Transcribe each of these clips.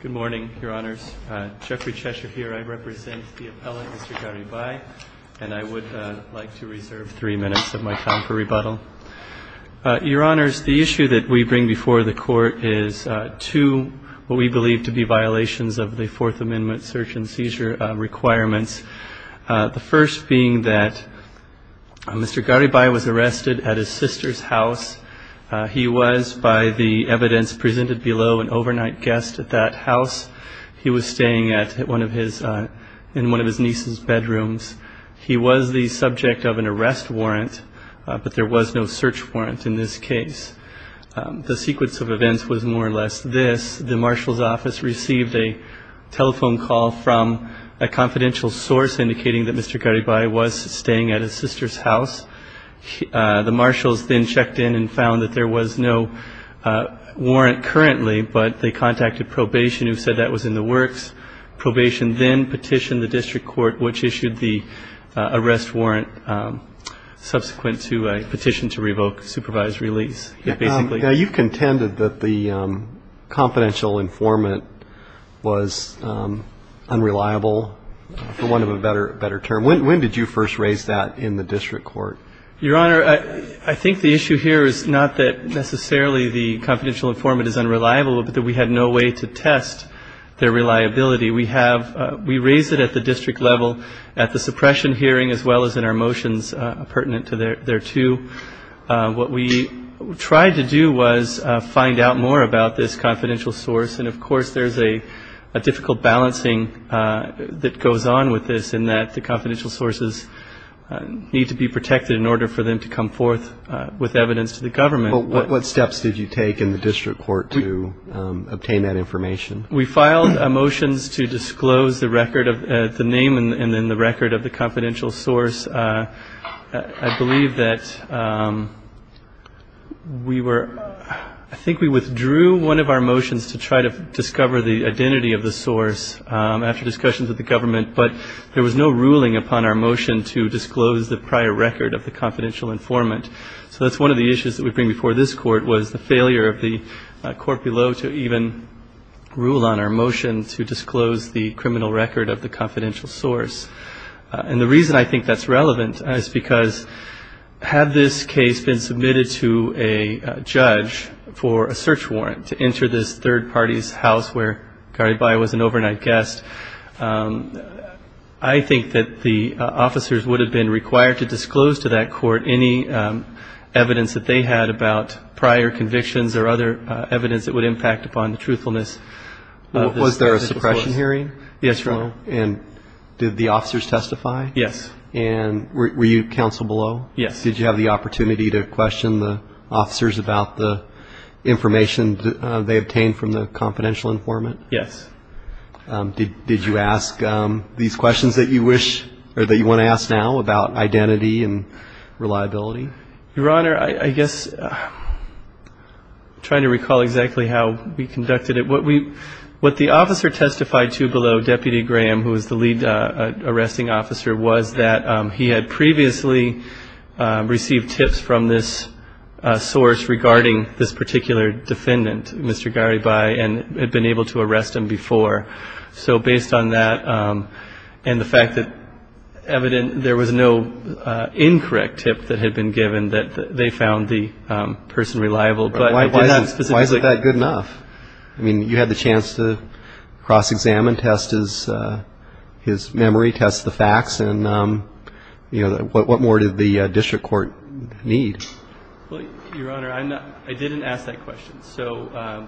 Good morning, Your Honors. Jeffrey Cheshire here. I represent the appellate, Mr. Garibay, and I would like to reserve three minutes of my time for rebuttal. Your Honors, the issue that we bring before the Court is two what we believe to be violations of the Fourth Amendment search and seizure requirements, the first being that Mr. Garibay was arrested at his sister's house. He was, by the evidence presented below, an overnight guest at that house. He was staying in one of his niece's bedrooms. He was the subject of an arrest warrant, but there was no search warrant in this case. The sequence of events was more or less this. The marshal's office received a telephone call from a confidential source indicating that Mr. Garibay was staying at his sister's house. The marshals then checked in and found that there was no warrant currently, but they contacted probation, who said that was in the works. Probation then petitioned the district court, which issued the arrest warrant subsequent to a petition to revoke supervised release. You've contended that the confidential informant was unreliable, for want of a better term. When did you first raise that in the district court? Your Honor, I think the issue here is not that necessarily the confidential informant is unreliable, but that we had no way to test their reliability. We have ‑‑ we raised it at the district level at the suppression hearing as well as in our motions pertinent to there, too. What we tried to do was find out more about this confidential source, and, of course, there's a difficult balancing that goes on with this in that the confidential sources need to be protected in order for them to come forth with evidence to the government. But what steps did you take in the district court to obtain that information? We filed motions to disclose the record of the name and then the record of the confidential source. I believe that we were ‑‑ I think we withdrew one of our motions to try to discover the identity of the source after discussions with the prior record of the confidential informant. So that's one of the issues that we bring before this court was the failure of the court below to even rule on our motion to disclose the criminal record of the confidential source. And the reason I think that's relevant is because had this case been submitted to a judge for a search warrant to enter this third party's house where would have been required to disclose to that court any evidence that they had about prior convictions or other evidence that would impact upon the truthfulness of the source. Was there a suppression hearing? Yes, Your Honor. And did the officers testify? Yes. And were you counsel below? Yes. Did you have the opportunity to question the officers about the information they obtained from the confidential informant? Yes. Did you ask these questions that you wish or that you want to ask now about identity and reliability? Your Honor, I guess I'm trying to recall exactly how we conducted it. What the officer testified to below, Deputy Graham, who was the lead arresting officer, was that he had previously received tips from this source regarding this particular defendant, Mr. Garibay, and had been able to arrest him before. So based on that and the fact that evident there was no incorrect tip that had been given that they found the person reliable. Why is that good enough? I mean, you had the chance to cross-examine, test his memory, test the facts, and what more did the district court need? Well, Your Honor, I didn't ask that question,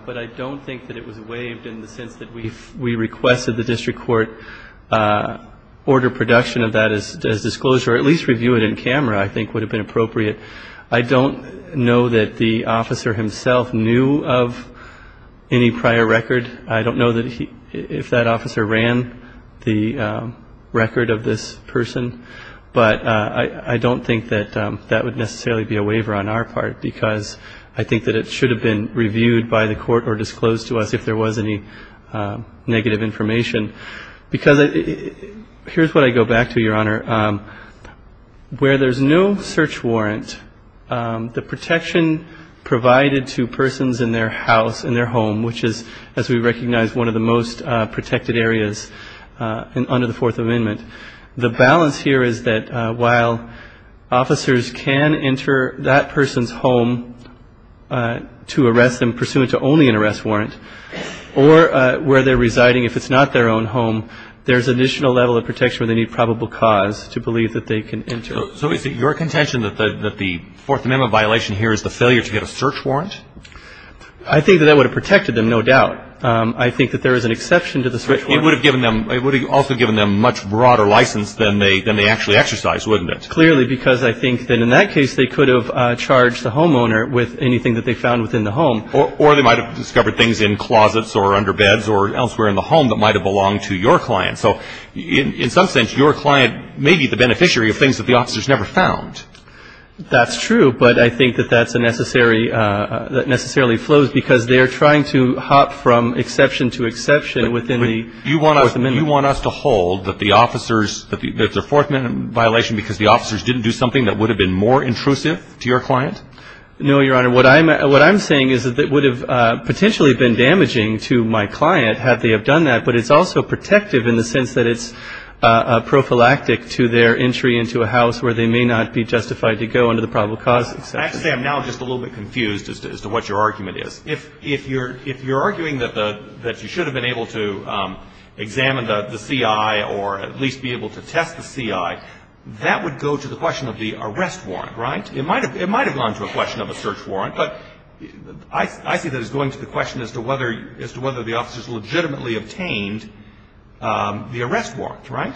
but I don't think that it was waived in the sense that we requested the district court order production of that as disclosure or at least review it in camera I think would have been appropriate. I don't know that the officer himself knew of any prior record. I don't know if that officer ran the record of this person, but I don't think that that would necessarily be a waiver on our part because I think that it should have been reviewed by the court or disclosed to us if there was any negative information. Because here's what I go back to, Your Honor. Where there's no search warrant, the protection provided to persons in their house, in their home, which is, as we recognize, one of the most protected areas under the Fourth Amendment, the balance here is that while officers can enter that person's home to arrest them pursuant to only an arrest warrant or where they're residing, if it's not their own home, there's additional level of protection that they have in their house to believe that they can enter. So is it your contention that the Fourth Amendment violation here is the failure to get a search warrant? I think that that would have protected them, no doubt. I think that there is an exception to the search warrant. It would have also given them a much broader license than they actually exercised, wouldn't it? Clearly, because I think that in that case, they could have charged the homeowner with anything that they found within the home. Or they might have discovered things in closets or under beds or elsewhere in the home that might have belonged to your client. So in some sense, your client may be the beneficiary of things that the officers never found. That's true, but I think that that's a necessary, that necessarily flows because they're trying to hop from exception to exception within the Fourth Amendment. Do you want us to hold that the officers, that the Fourth Amendment violation, because the officers didn't do something that would have been more intrusive to your client? No, Your Honor. What I'm saying is that it would have potentially been damaging to my client had they have done that. But it's also protective in the sense that it's prophylactic to their entry into a house where they may not be justified to go under the probable cause exception. I have to say I'm now just a little bit confused as to what your argument is. If you're arguing that you should have been able to examine the C.I. or at least be able to test the C.I., that would go to the question of the arrest warrant, right? It might have gone to a question of a search warrant, but I see that as going to the question as to whether the officers legitimately obtained the arrest warrant, right?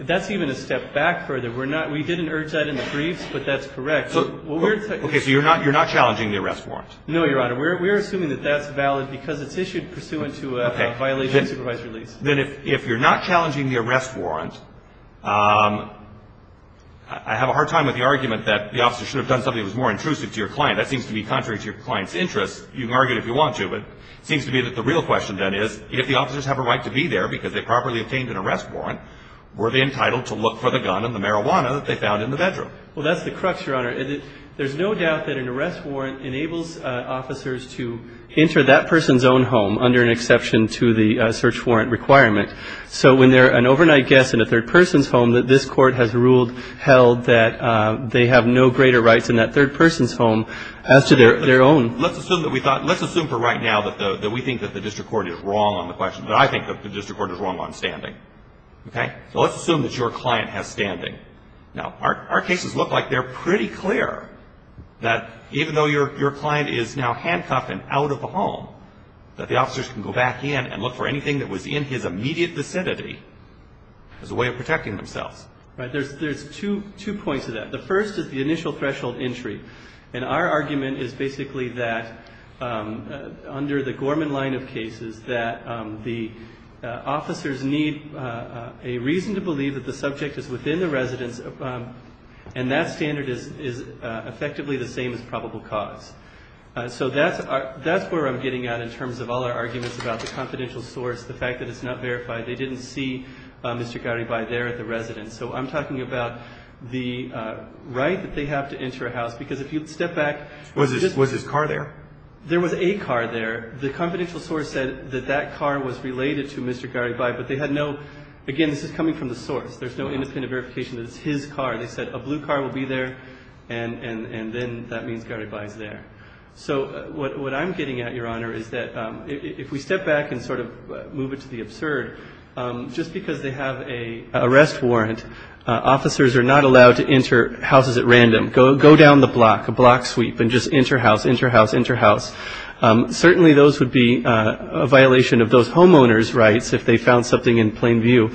That's even a step back further. We didn't urge that in the briefs, but that's correct. Okay, so you're not challenging the arrest warrant? No, Your Honor. We're assuming that that's valid because it's issued pursuant to a violation of supervised release. Then if you're not challenging the arrest warrant, I have a hard time with the argument that the officers should have done something that was more intrusive to your client. That seems to be contrary to your client's interests. You can argue it if you want to, but it seems to be that the real question then is if the officers have a right to be there because they properly obtained an arrest warrant, were they entitled to look for the gun and the marijuana that they found in the bedroom? Well, that's the crux, Your Honor. There's no doubt that an arrest warrant enables officers to enter that person's own home under an exception to the search warrant requirement. So when they're an overnight guest in a third person's home, that this court has ruled, held that they have no greater rights in that third person's home as to their own. Let's assume that we thought, let's assume for right now that we think that the district court is wrong on the question, but I think that the district court is wrong on standing. Okay? So let's assume that your client has standing. Now, our cases look like they're pretty clear that even though your client is now handcuffed and out of the home, that the officers can go back in and look for anything that was in his immediate vicinity as a way of protecting themselves. Right. There's two points to that. The first is the initial threshold entry. And our argument is basically that under the Gorman line of cases, that the officers need a reason to believe that the subject is within the residence, and that standard is effectively the same as probable cause. So that's where I'm getting at in terms of all our arguments about the confidential source, the fact that it's not verified. They didn't see Mr. Garibay there at the residence. So I'm talking about the right that they have to enter a house, because if you step back. Was his car there? There was a car there. The confidential source said that that car was related to Mr. Garibay, but they had no, again, this is coming from the source. There's no independent verification that it's his car. They said a blue car will be there, and then that means Garibay's there. So what I'm getting at, Your Honor, is that if we step back and sort of move it to the absurd, just because they have an arrest warrant, officers are not allowed to enter houses at random. Go down the block, a block sweep, and just enter house, enter house, enter house. Certainly those would be a violation of those homeowners' rights if they found something in plain view.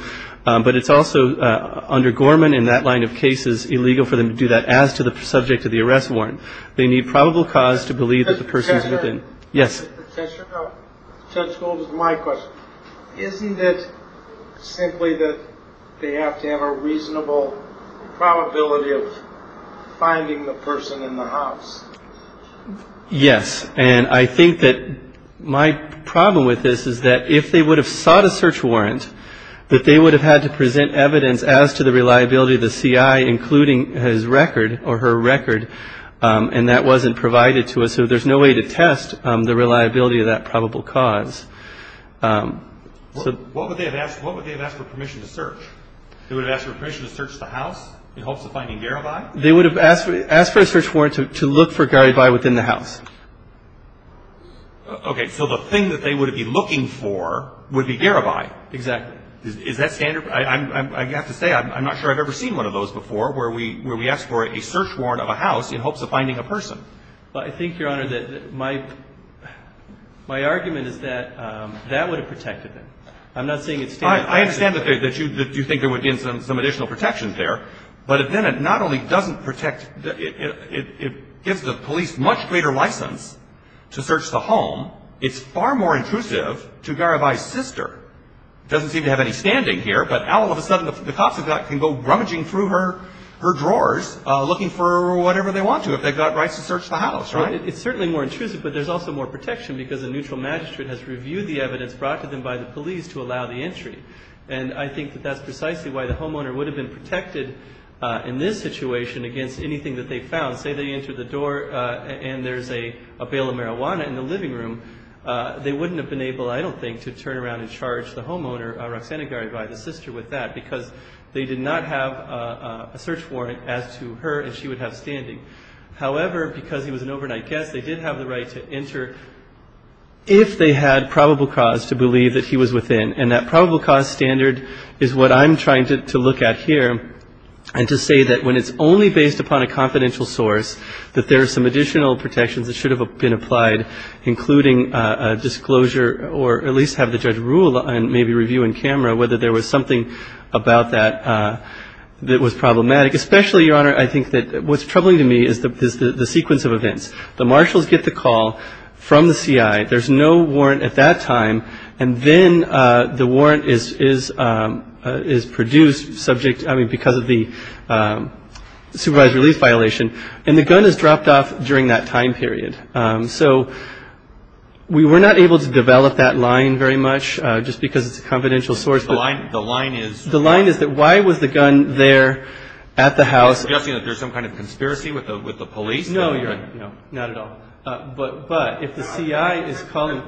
But it's also, under Gorman, in that line of cases, illegal for them to do that as to the subject of the arrest warrant. They need probable cause to believe that the person is within. Yes? Judge Gould, this is my question. Isn't it simply that they have to have a reasonable probability of finding the person in the house? Yes, and I think that my problem with this is that if they would have sought a search warrant, that they would have had to present evidence as to the reliability of the CI, including his record or her record, and that wasn't provided to us. So there's no way to test the reliability of that probable cause. What would they have asked for permission to search? They would have asked for permission to search the house in hopes of finding Garibay? They would have asked for a search warrant to look for Garibay within the house. Okay. So the thing that they would be looking for would be Garibay. Exactly. Is that standard? I have to say, I'm not sure I've ever seen one of those before, where we ask for a search warrant of a house in hopes of finding a person. I think, Your Honor, that my argument is that that would have protected them. I'm not saying it's standard. I understand that you think there would be some additional protections there, but then it not only doesn't protect, it gives the police much greater license to search the home. It's far more intrusive to Garibay's sister. It doesn't seem to have any standing here, but all of a sudden the cops can go rummaging through her drawers looking for whatever they want to, if they've got rights to search the house, right? It's certainly more intrusive, but there's also more protection because the neutral magistrate has reviewed the evidence brought to them by the police to allow the entry. And I think that that's precisely why the homeowner would have been protected in this situation against anything that they found. Say they entered the door and there's a bale of marijuana in the living room, they wouldn't have been able, I don't think, to turn around and charge the homeowner, Roxana Garibay, the sister, with that because they did not have a search warrant as to her and she would have standing. However, because he was an overnight guest, they did have the right to enter if they had probable cause to believe that he was within. And that probable cause standard is what I'm trying to look at here and to say that when it's only based upon a confidential source, that there are some additional protections that should have been applied, including disclosure or at least have the judge rule and maybe review in camera whether there was something about that that was problematic. Especially, Your Honor, I think that what's troubling to me is the sequence of events. The marshals get the call from the CI. There's no warrant at that time. And then the warrant is produced because of the supervised release violation. And the gun is dropped off during that time period. So we were not able to develop that line very much just because it's a confidential source. The line is that why was the gun there at the house? Are you suggesting that there's some kind of conspiracy with the police? No, Your Honor. Not at all. But if the CI is calling.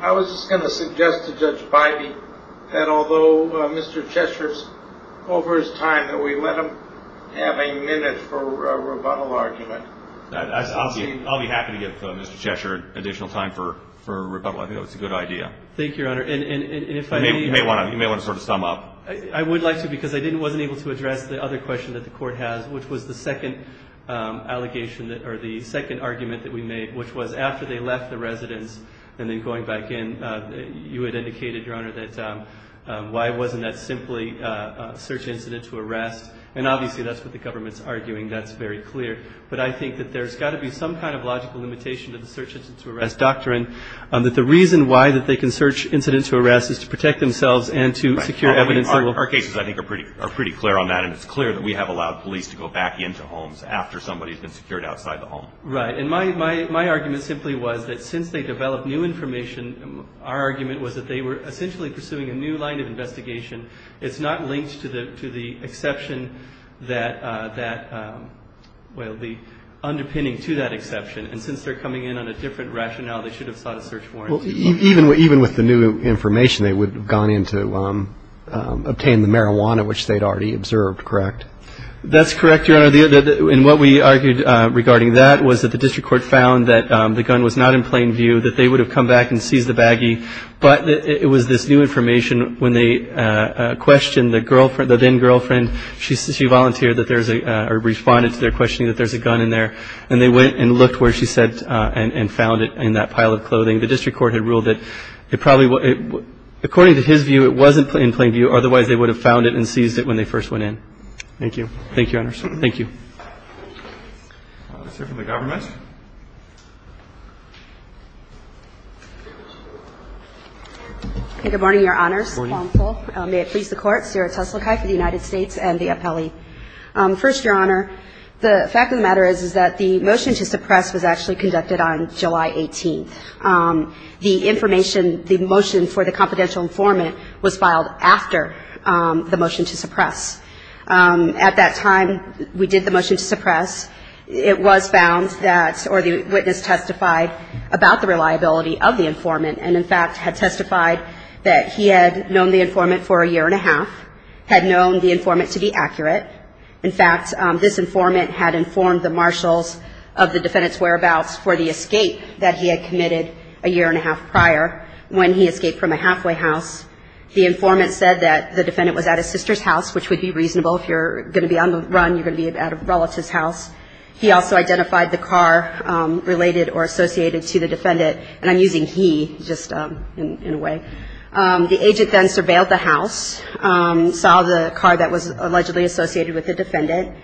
I was just going to suggest to Judge Bybee that although Mr. Cheshire's over his time, that we let him have a minute for a rebuttal argument. I'll be happy to give Mr. Cheshire additional time for rebuttal. I think that's a good idea. Thank you, Your Honor. You may want to sort of sum up. I would like to because I wasn't able to address the other question that the court has, which was the second allegation or the second argument that we made, which was after they left the residence and then going back in, you had indicated, Your Honor, that why wasn't that simply a search incident to arrest? And obviously that's what the government's arguing. That's very clear. But I think that there's got to be some kind of logical limitation to the search incident to arrest doctrine. That the reason why that they can search incidents to arrest is to protect themselves and to secure evidence. Our cases, I think, are pretty clear on that. And it's clear that we have allowed police to go back into homes after somebody's been secured outside the home. Right. And my argument simply was that since they developed new information, our argument was that they were essentially pursuing a new line of investigation. It's not linked to the exception that will be underpinning to that exception. And since they're coming in on a different rationale, they should have sought a search warrant. Well, even with the new information, they would have gone in to obtain the marijuana, which they'd already observed, correct? That's correct, Your Honor. And what we argued regarding that was that the district court found that the gun was not in plain view, that they would have come back and seized the baggie. But it was this new information when they questioned the then-girlfriend. She volunteered or responded to their questioning that there's a gun in there. And they went and looked where she said and found it in that pile of clothing. The district court had ruled that it probably was – according to his view, it wasn't in plain view. Otherwise, they would have found it and seized it when they first went in. Thank you. Thank you, Your Honors. Thank you. Let's hear from the government. Good morning, Your Honors. Good morning. May it please the Court. Sarah Teslukai for the United States and the appellee. First, Your Honor, the fact of the matter is that the motion to suppress was actually conducted on July 18th. The information – the motion for the confidential informant was filed after the motion to suppress. At that time, we did the motion to suppress. It was found that – or the witness testified about the reliability of the informant and, in fact, had testified that he had known the informant for a year and a half, had known the informant to be accurate. In fact, this informant had informed the marshals of the defendant's whereabouts for the escape that he had committed a year and a half prior when he escaped from a halfway house. The informant said that the defendant was at his sister's house, which would be reasonable. If you're going to be on the run, you're going to be at a relative's house. He also identified the car related or associated to the defendant. And I'm using he just in a way. The agent then surveilled the house, saw the car that was allegedly associated with the defendant.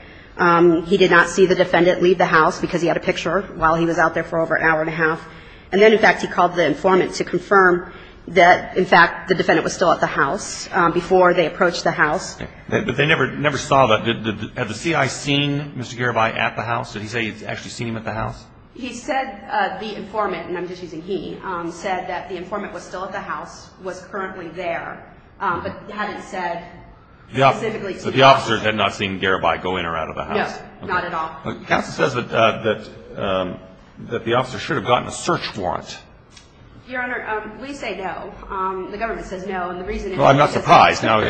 He did not see the defendant leave the house because he had a picture while he was out there for over an hour and a half. And then, in fact, he called the informant to confirm that, in fact, the defendant was still at the house before they approached the house. But they never saw the – had the CI seen Mr. Garibay at the house? He said the informant, and I'm just using he, said that the informant was still at the house, was currently there, but hadn't said specifically to Garibay. So the officer had not seen Garibay go in or out of the house? No, not at all. Counsel says that the officer should have gotten a search warrant. Your Honor, we say no. The government says no. And the reason – Well, I'm not surprised. Well,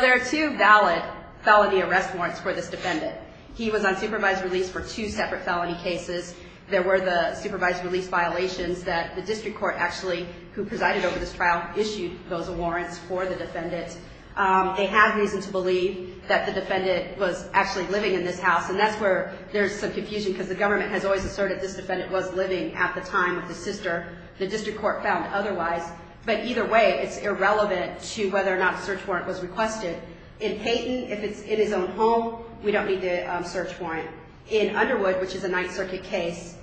there are two valid felony arrest warrants for this defendant. He was on supervised release for two separate felony cases. There were the supervised release violations that the district court actually, who presided over this trial, issued those warrants for the defendant. They have reason to believe that the defendant was actually living in this house, and that's where there's some confusion because the government has always asserted this defendant was living at the time of the sister. The district court found otherwise. But either way, it's irrelevant to whether or not a search warrant was requested. In Peyton, if it's in his own home, we don't need the search warrant. In Underwood, which is a Ninth Circuit case,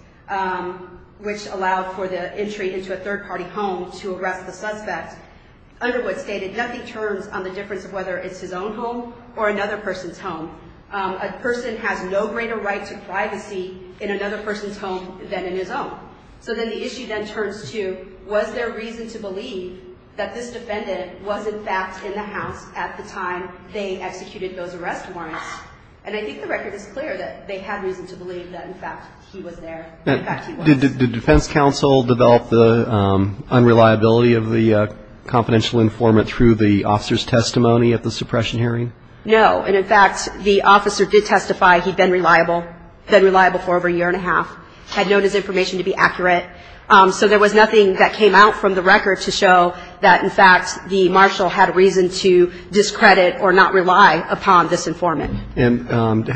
which allowed for the entry into a third-party home to arrest the suspect, Underwood stated nothing turns on the difference of whether it's his own home or another person's home. A person has no greater right to privacy in another person's home than in his own. So then the issue then turns to, was there reason to believe that this defendant was, in fact, in the house at the time they executed those arrest warrants? And I think the record is clear that they had reason to believe that, in fact, he was there. In fact, he was. Did defense counsel develop the unreliability of the confidential informant through the officer's testimony at the suppression hearing? No. And, in fact, the officer did testify he'd been reliable, been reliable for over a year and a half, had known his information to be accurate. So there was nothing that came out from the record to show that, in fact, the marshal had reason to discredit or not rely upon this informant. And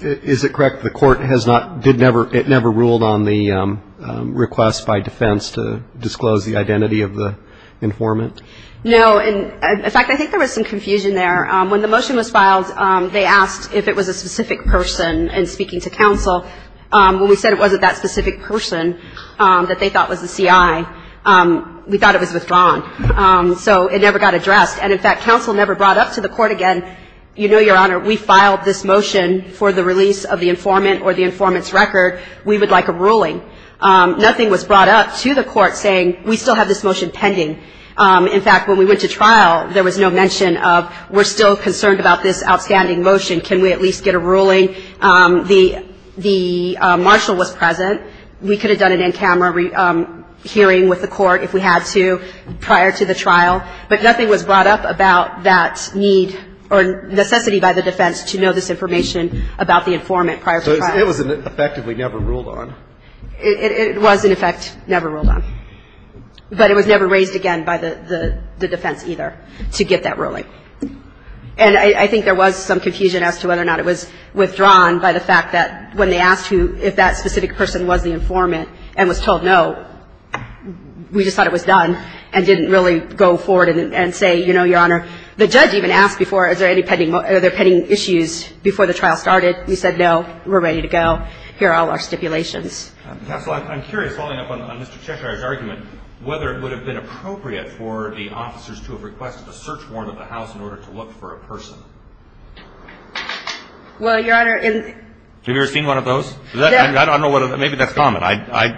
is it correct the court has not, did never, it never ruled on the request by defense to disclose the identity of the informant? No. In fact, I think there was some confusion there. When the motion was filed, they asked if it was a specific person in speaking to counsel. When we said it wasn't that specific person that they thought was the CI, we thought it was withdrawn. So it never got addressed. And, in fact, counsel never brought up to the court again, you know, Your Honor, we filed this motion for the release of the informant or the informant's record. We would like a ruling. Nothing was brought up to the court saying we still have this motion pending. In fact, when we went to trial, there was no mention of we're still concerned about this outstanding motion. Can we at least get a ruling? The marshal was present. We could have done an in-camera hearing with the court if we had to prior to the trial. But nothing was brought up about that need or necessity by the defense to know this information about the informant prior to trial. So it was effectively never ruled on. It was, in effect, never ruled on. But it was never raised again by the defense either to get that ruling. And I think there was some confusion as to whether or not it was withdrawn by the fact that when they asked who if that specific person was the informant and was told no, we just thought it was done and didn't really go forward and say, you know, Your Honor, the judge even asked before is there any pending issues before the trial started. We said no. We're ready to go. Here are all our stipulations. I'm curious, following up on Mr. Cheshire's argument, whether it would have been appropriate for the officers to have requested a search warrant at the house in order to look for a person. Well, Your Honor. Have you ever seen one of those? I don't know. Maybe that's common. I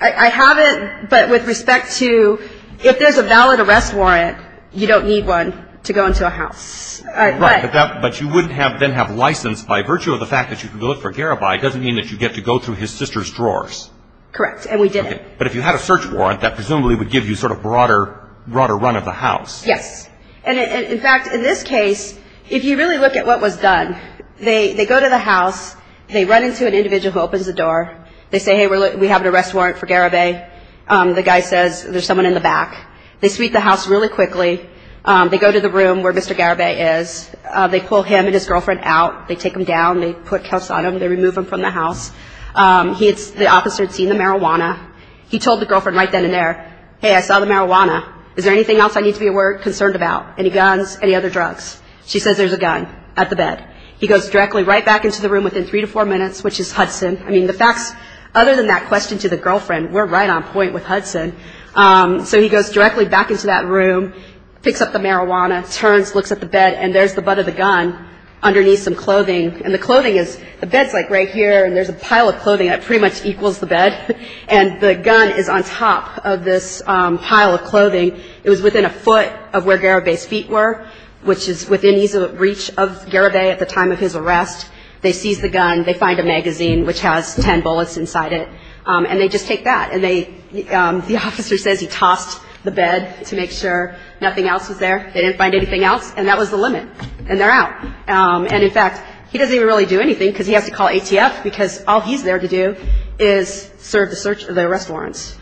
haven't. But with respect to if there's a valid arrest warrant, you don't need one to go into a house. Right. But you wouldn't then have license by virtue of the fact that you can go look for Garibay doesn't mean that you get to go through his sister's drawers. Correct. And we didn't. But if you had a search warrant, that presumably would give you sort of broader run of the house. Yes. And, in fact, in this case, if you really look at what was done, they go to the house. They run into an individual who opens the door. They say, Hey, we have an arrest warrant for Garibay. The guy says there's someone in the back. They sweep the house really quickly. They go to the room where Mr. Garibay is. They pull him and his girlfriend out. They take them down. They put cuffs on them. They remove them from the house. The officer had seen the marijuana. He told the girlfriend right then and there, Hey, I saw the marijuana. Is there anything else I need to be concerned about? Any guns? Any other drugs? She says there's a gun at the bed. He goes directly right back into the room within three to four minutes, which is Hudson. I mean, the facts, other than that question to the girlfriend, we're right on point with Hudson. So he goes directly back into that room, picks up the marijuana, turns, looks at the bed, and there's the butt of the gun underneath some clothing. And the clothing is, the bed's like right here, and there's a pile of clothing that pretty much equals the bed. And the gun is on top of this pile of clothing. It was within a foot of where Garibay's feet were, which is within ease of reach of Garibay at the time of his arrest. They seize the gun. They find a magazine, which has ten bullets inside it. And they just take that. And they, the officer says he tossed the bed to make sure nothing else was there. They didn't find anything else. And that was the limit. And they're out. And, in fact, he doesn't even really do anything because he has to call ATF because all he's there to do is serve the search of the arrest warrants.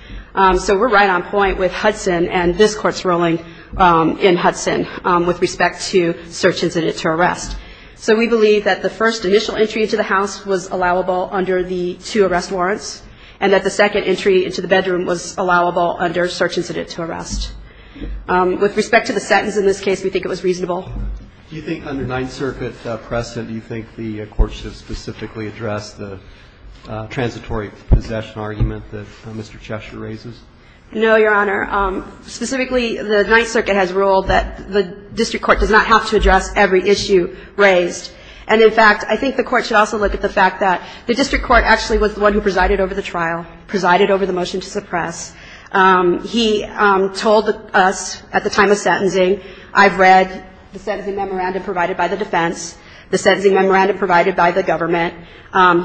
So we're right on point with Hudson and this court's ruling in Hudson with respect to search incident to arrest. So we believe that the first initial entry into the house was allowable under the two arrest warrants, and that the second entry into the bedroom was allowable under search incident to arrest. With respect to the sentence in this case, we think it was reasonable. Do you think under Ninth Circuit precedent, do you think the Court should specifically address the transitory possession argument that Mr. Cheshire raises? No, Your Honor. Specifically, the Ninth Circuit has ruled that the district court does not have to address every issue raised. And, in fact, I think the Court should also look at the fact that the district court actually was the one who presided over the trial, presided over the motion to suppress. He told us at the time of sentencing, I've read the sentencing memorandum provided by the defense, the sentencing memorandum provided by the government.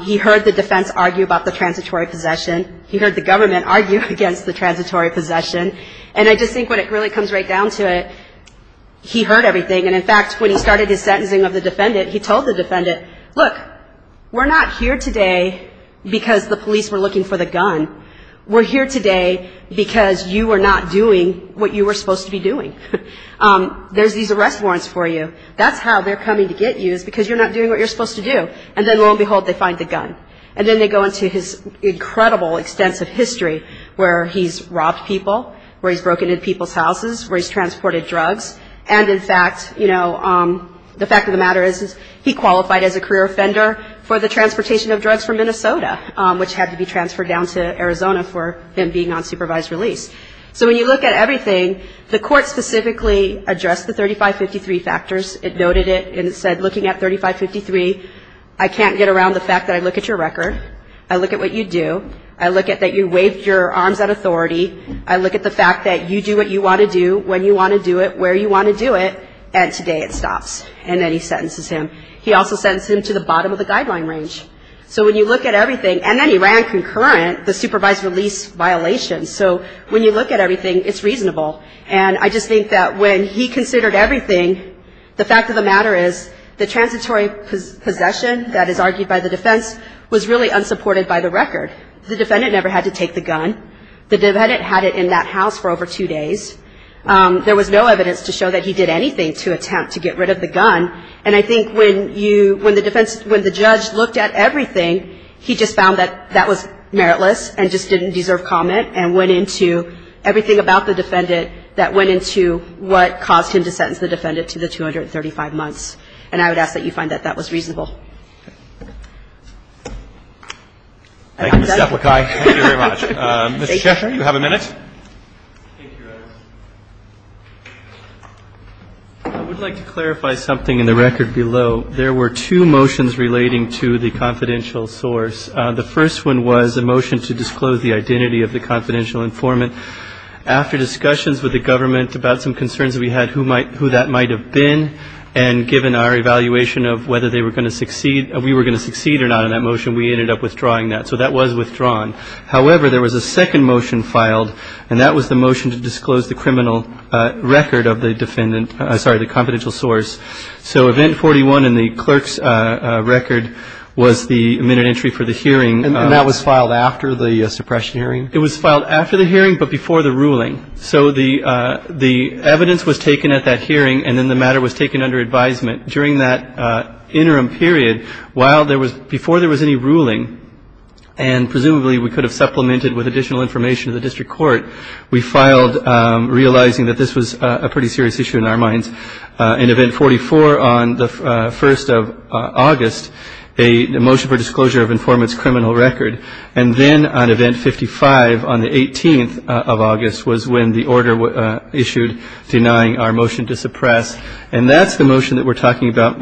He heard the defense argue about the transitory possession. He heard the government argue against the transitory possession. And I just think when it really comes right down to it, he heard everything. And, in fact, when he started his sentencing of the defendant, he told the defendant, look, we're not here today because the police were looking for the gun. We're here today because you were not doing what you were supposed to be doing. There's these arrest warrants for you. That's how they're coming to get you is because you're not doing what you're supposed to do. And then, lo and behold, they find the gun. And then they go into his incredible extensive history where he's robbed people, where he's broken into people's houses, where he's transported drugs. And, in fact, you know, the fact of the matter is he qualified as a career offender for the transportation of drugs from Minnesota, which had to be transferred down to Arizona for him being on supervised release. So when you look at everything, the court specifically addressed the 3553 factors. It noted it and it said, looking at 3553, I can't get around the fact that I look at your record. I look at what you do. I look at that you waved your arms at authority. I look at the fact that you do what you want to do, when you want to do it, where you want to do it. And today it stops. And then he sentences him. He also sentenced him to the bottom of the guideline range. So when you look at everything, and then he ran concurrent, the supervised release violation. So when you look at everything, it's reasonable. And I just think that when he considered everything, the fact of the matter is the transitory possession that is argued by the defense was really unsupported by the record. The defendant never had to take the gun. The defendant had it in that house for over two days. There was no evidence to show that he did anything to attempt to get rid of the gun. And I think when you, when the defense, when the judge looked at everything, he just found that that was meritless and just didn't deserve comment and went into everything about the defendant that went into what caused him to sentence the defendant to the 235 months. And I would ask that you find that that was reasonable. Thank you, Ms. Zeppelikai. Thank you very much. Mr. Cheshire, you have a minute. Thank you, guys. I would like to clarify something in the record below. There were two motions relating to the confidential source. The first one was a motion to disclose the identity of the confidential informant. After discussions with the government about some concerns that we had, who that might have been, and given our evaluation of whether they were going to succeed, we were going to succeed or not in that motion, we ended up withdrawing that. So that was withdrawn. However, there was a second motion filed, and that was the motion to disclose the criminal record of the defendant, sorry, the confidential source. So event 41 in the clerk's record was the minute entry for the hearing. And that was filed after the suppression hearing? It was filed after the hearing but before the ruling. So the evidence was taken at that hearing, and then the matter was taken under advisement. During that interim period, while there was, before there was any ruling, and presumably we could have supplemented with additional information to the district court, we filed, realizing that this was a pretty serious issue in our minds, in event 44 on the 1st of August, a motion for disclosure of informant's criminal record. And then on event 55 on the 18th of August was when the order was issued denying our motion to suppress. And that's the motion that we're talking about,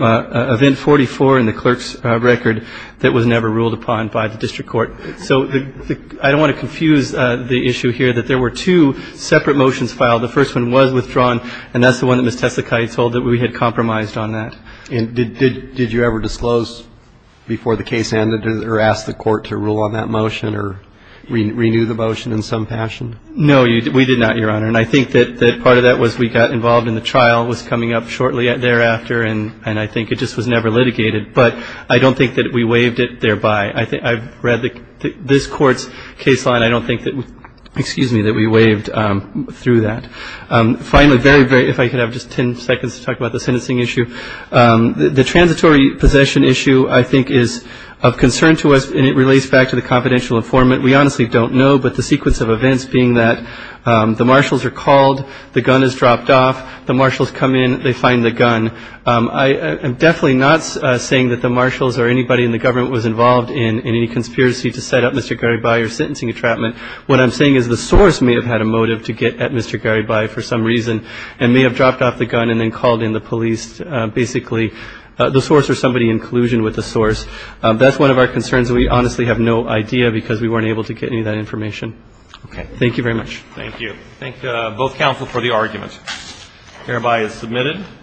event 44 in the clerk's record, that was never ruled upon by the district court. So I don't want to confuse the issue here that there were two separate motions filed. The first one was withdrawn, and that's the one that Ms. Tesakai told that we had compromised on that. And did you ever disclose before the case ended or ask the court to rule on that motion or renew the motion in some fashion? No, we did not, Your Honor. And I think that part of that was we got involved in the trial, was coming up shortly thereafter, and I think it just was never litigated. But I don't think that we waived it thereby. I've read this court's case line. I don't think that we waived through that. Finally, if I could have just ten seconds to talk about the sentencing issue. The transitory possession issue, I think, is of concern to us, and it relates back to the confidential informant we honestly don't know, but the sequence of events being that the marshals are called, the gun is dropped off, the marshals come in, they find the gun. I'm definitely not saying that the marshals or anybody in the government was involved in any conspiracy to set up Mr. Garibay or sentencing entrapment. What I'm saying is the source may have had a motive to get at Mr. Garibay for some reason and may have dropped off the gun and then called in the police. Basically, the source or somebody in collusion with the source, that's one of our concerns. We honestly have no idea because we weren't able to get any of that information. Okay. Thank you very much. Thank you. Thank both counsel for the argument. Garibay is submitted.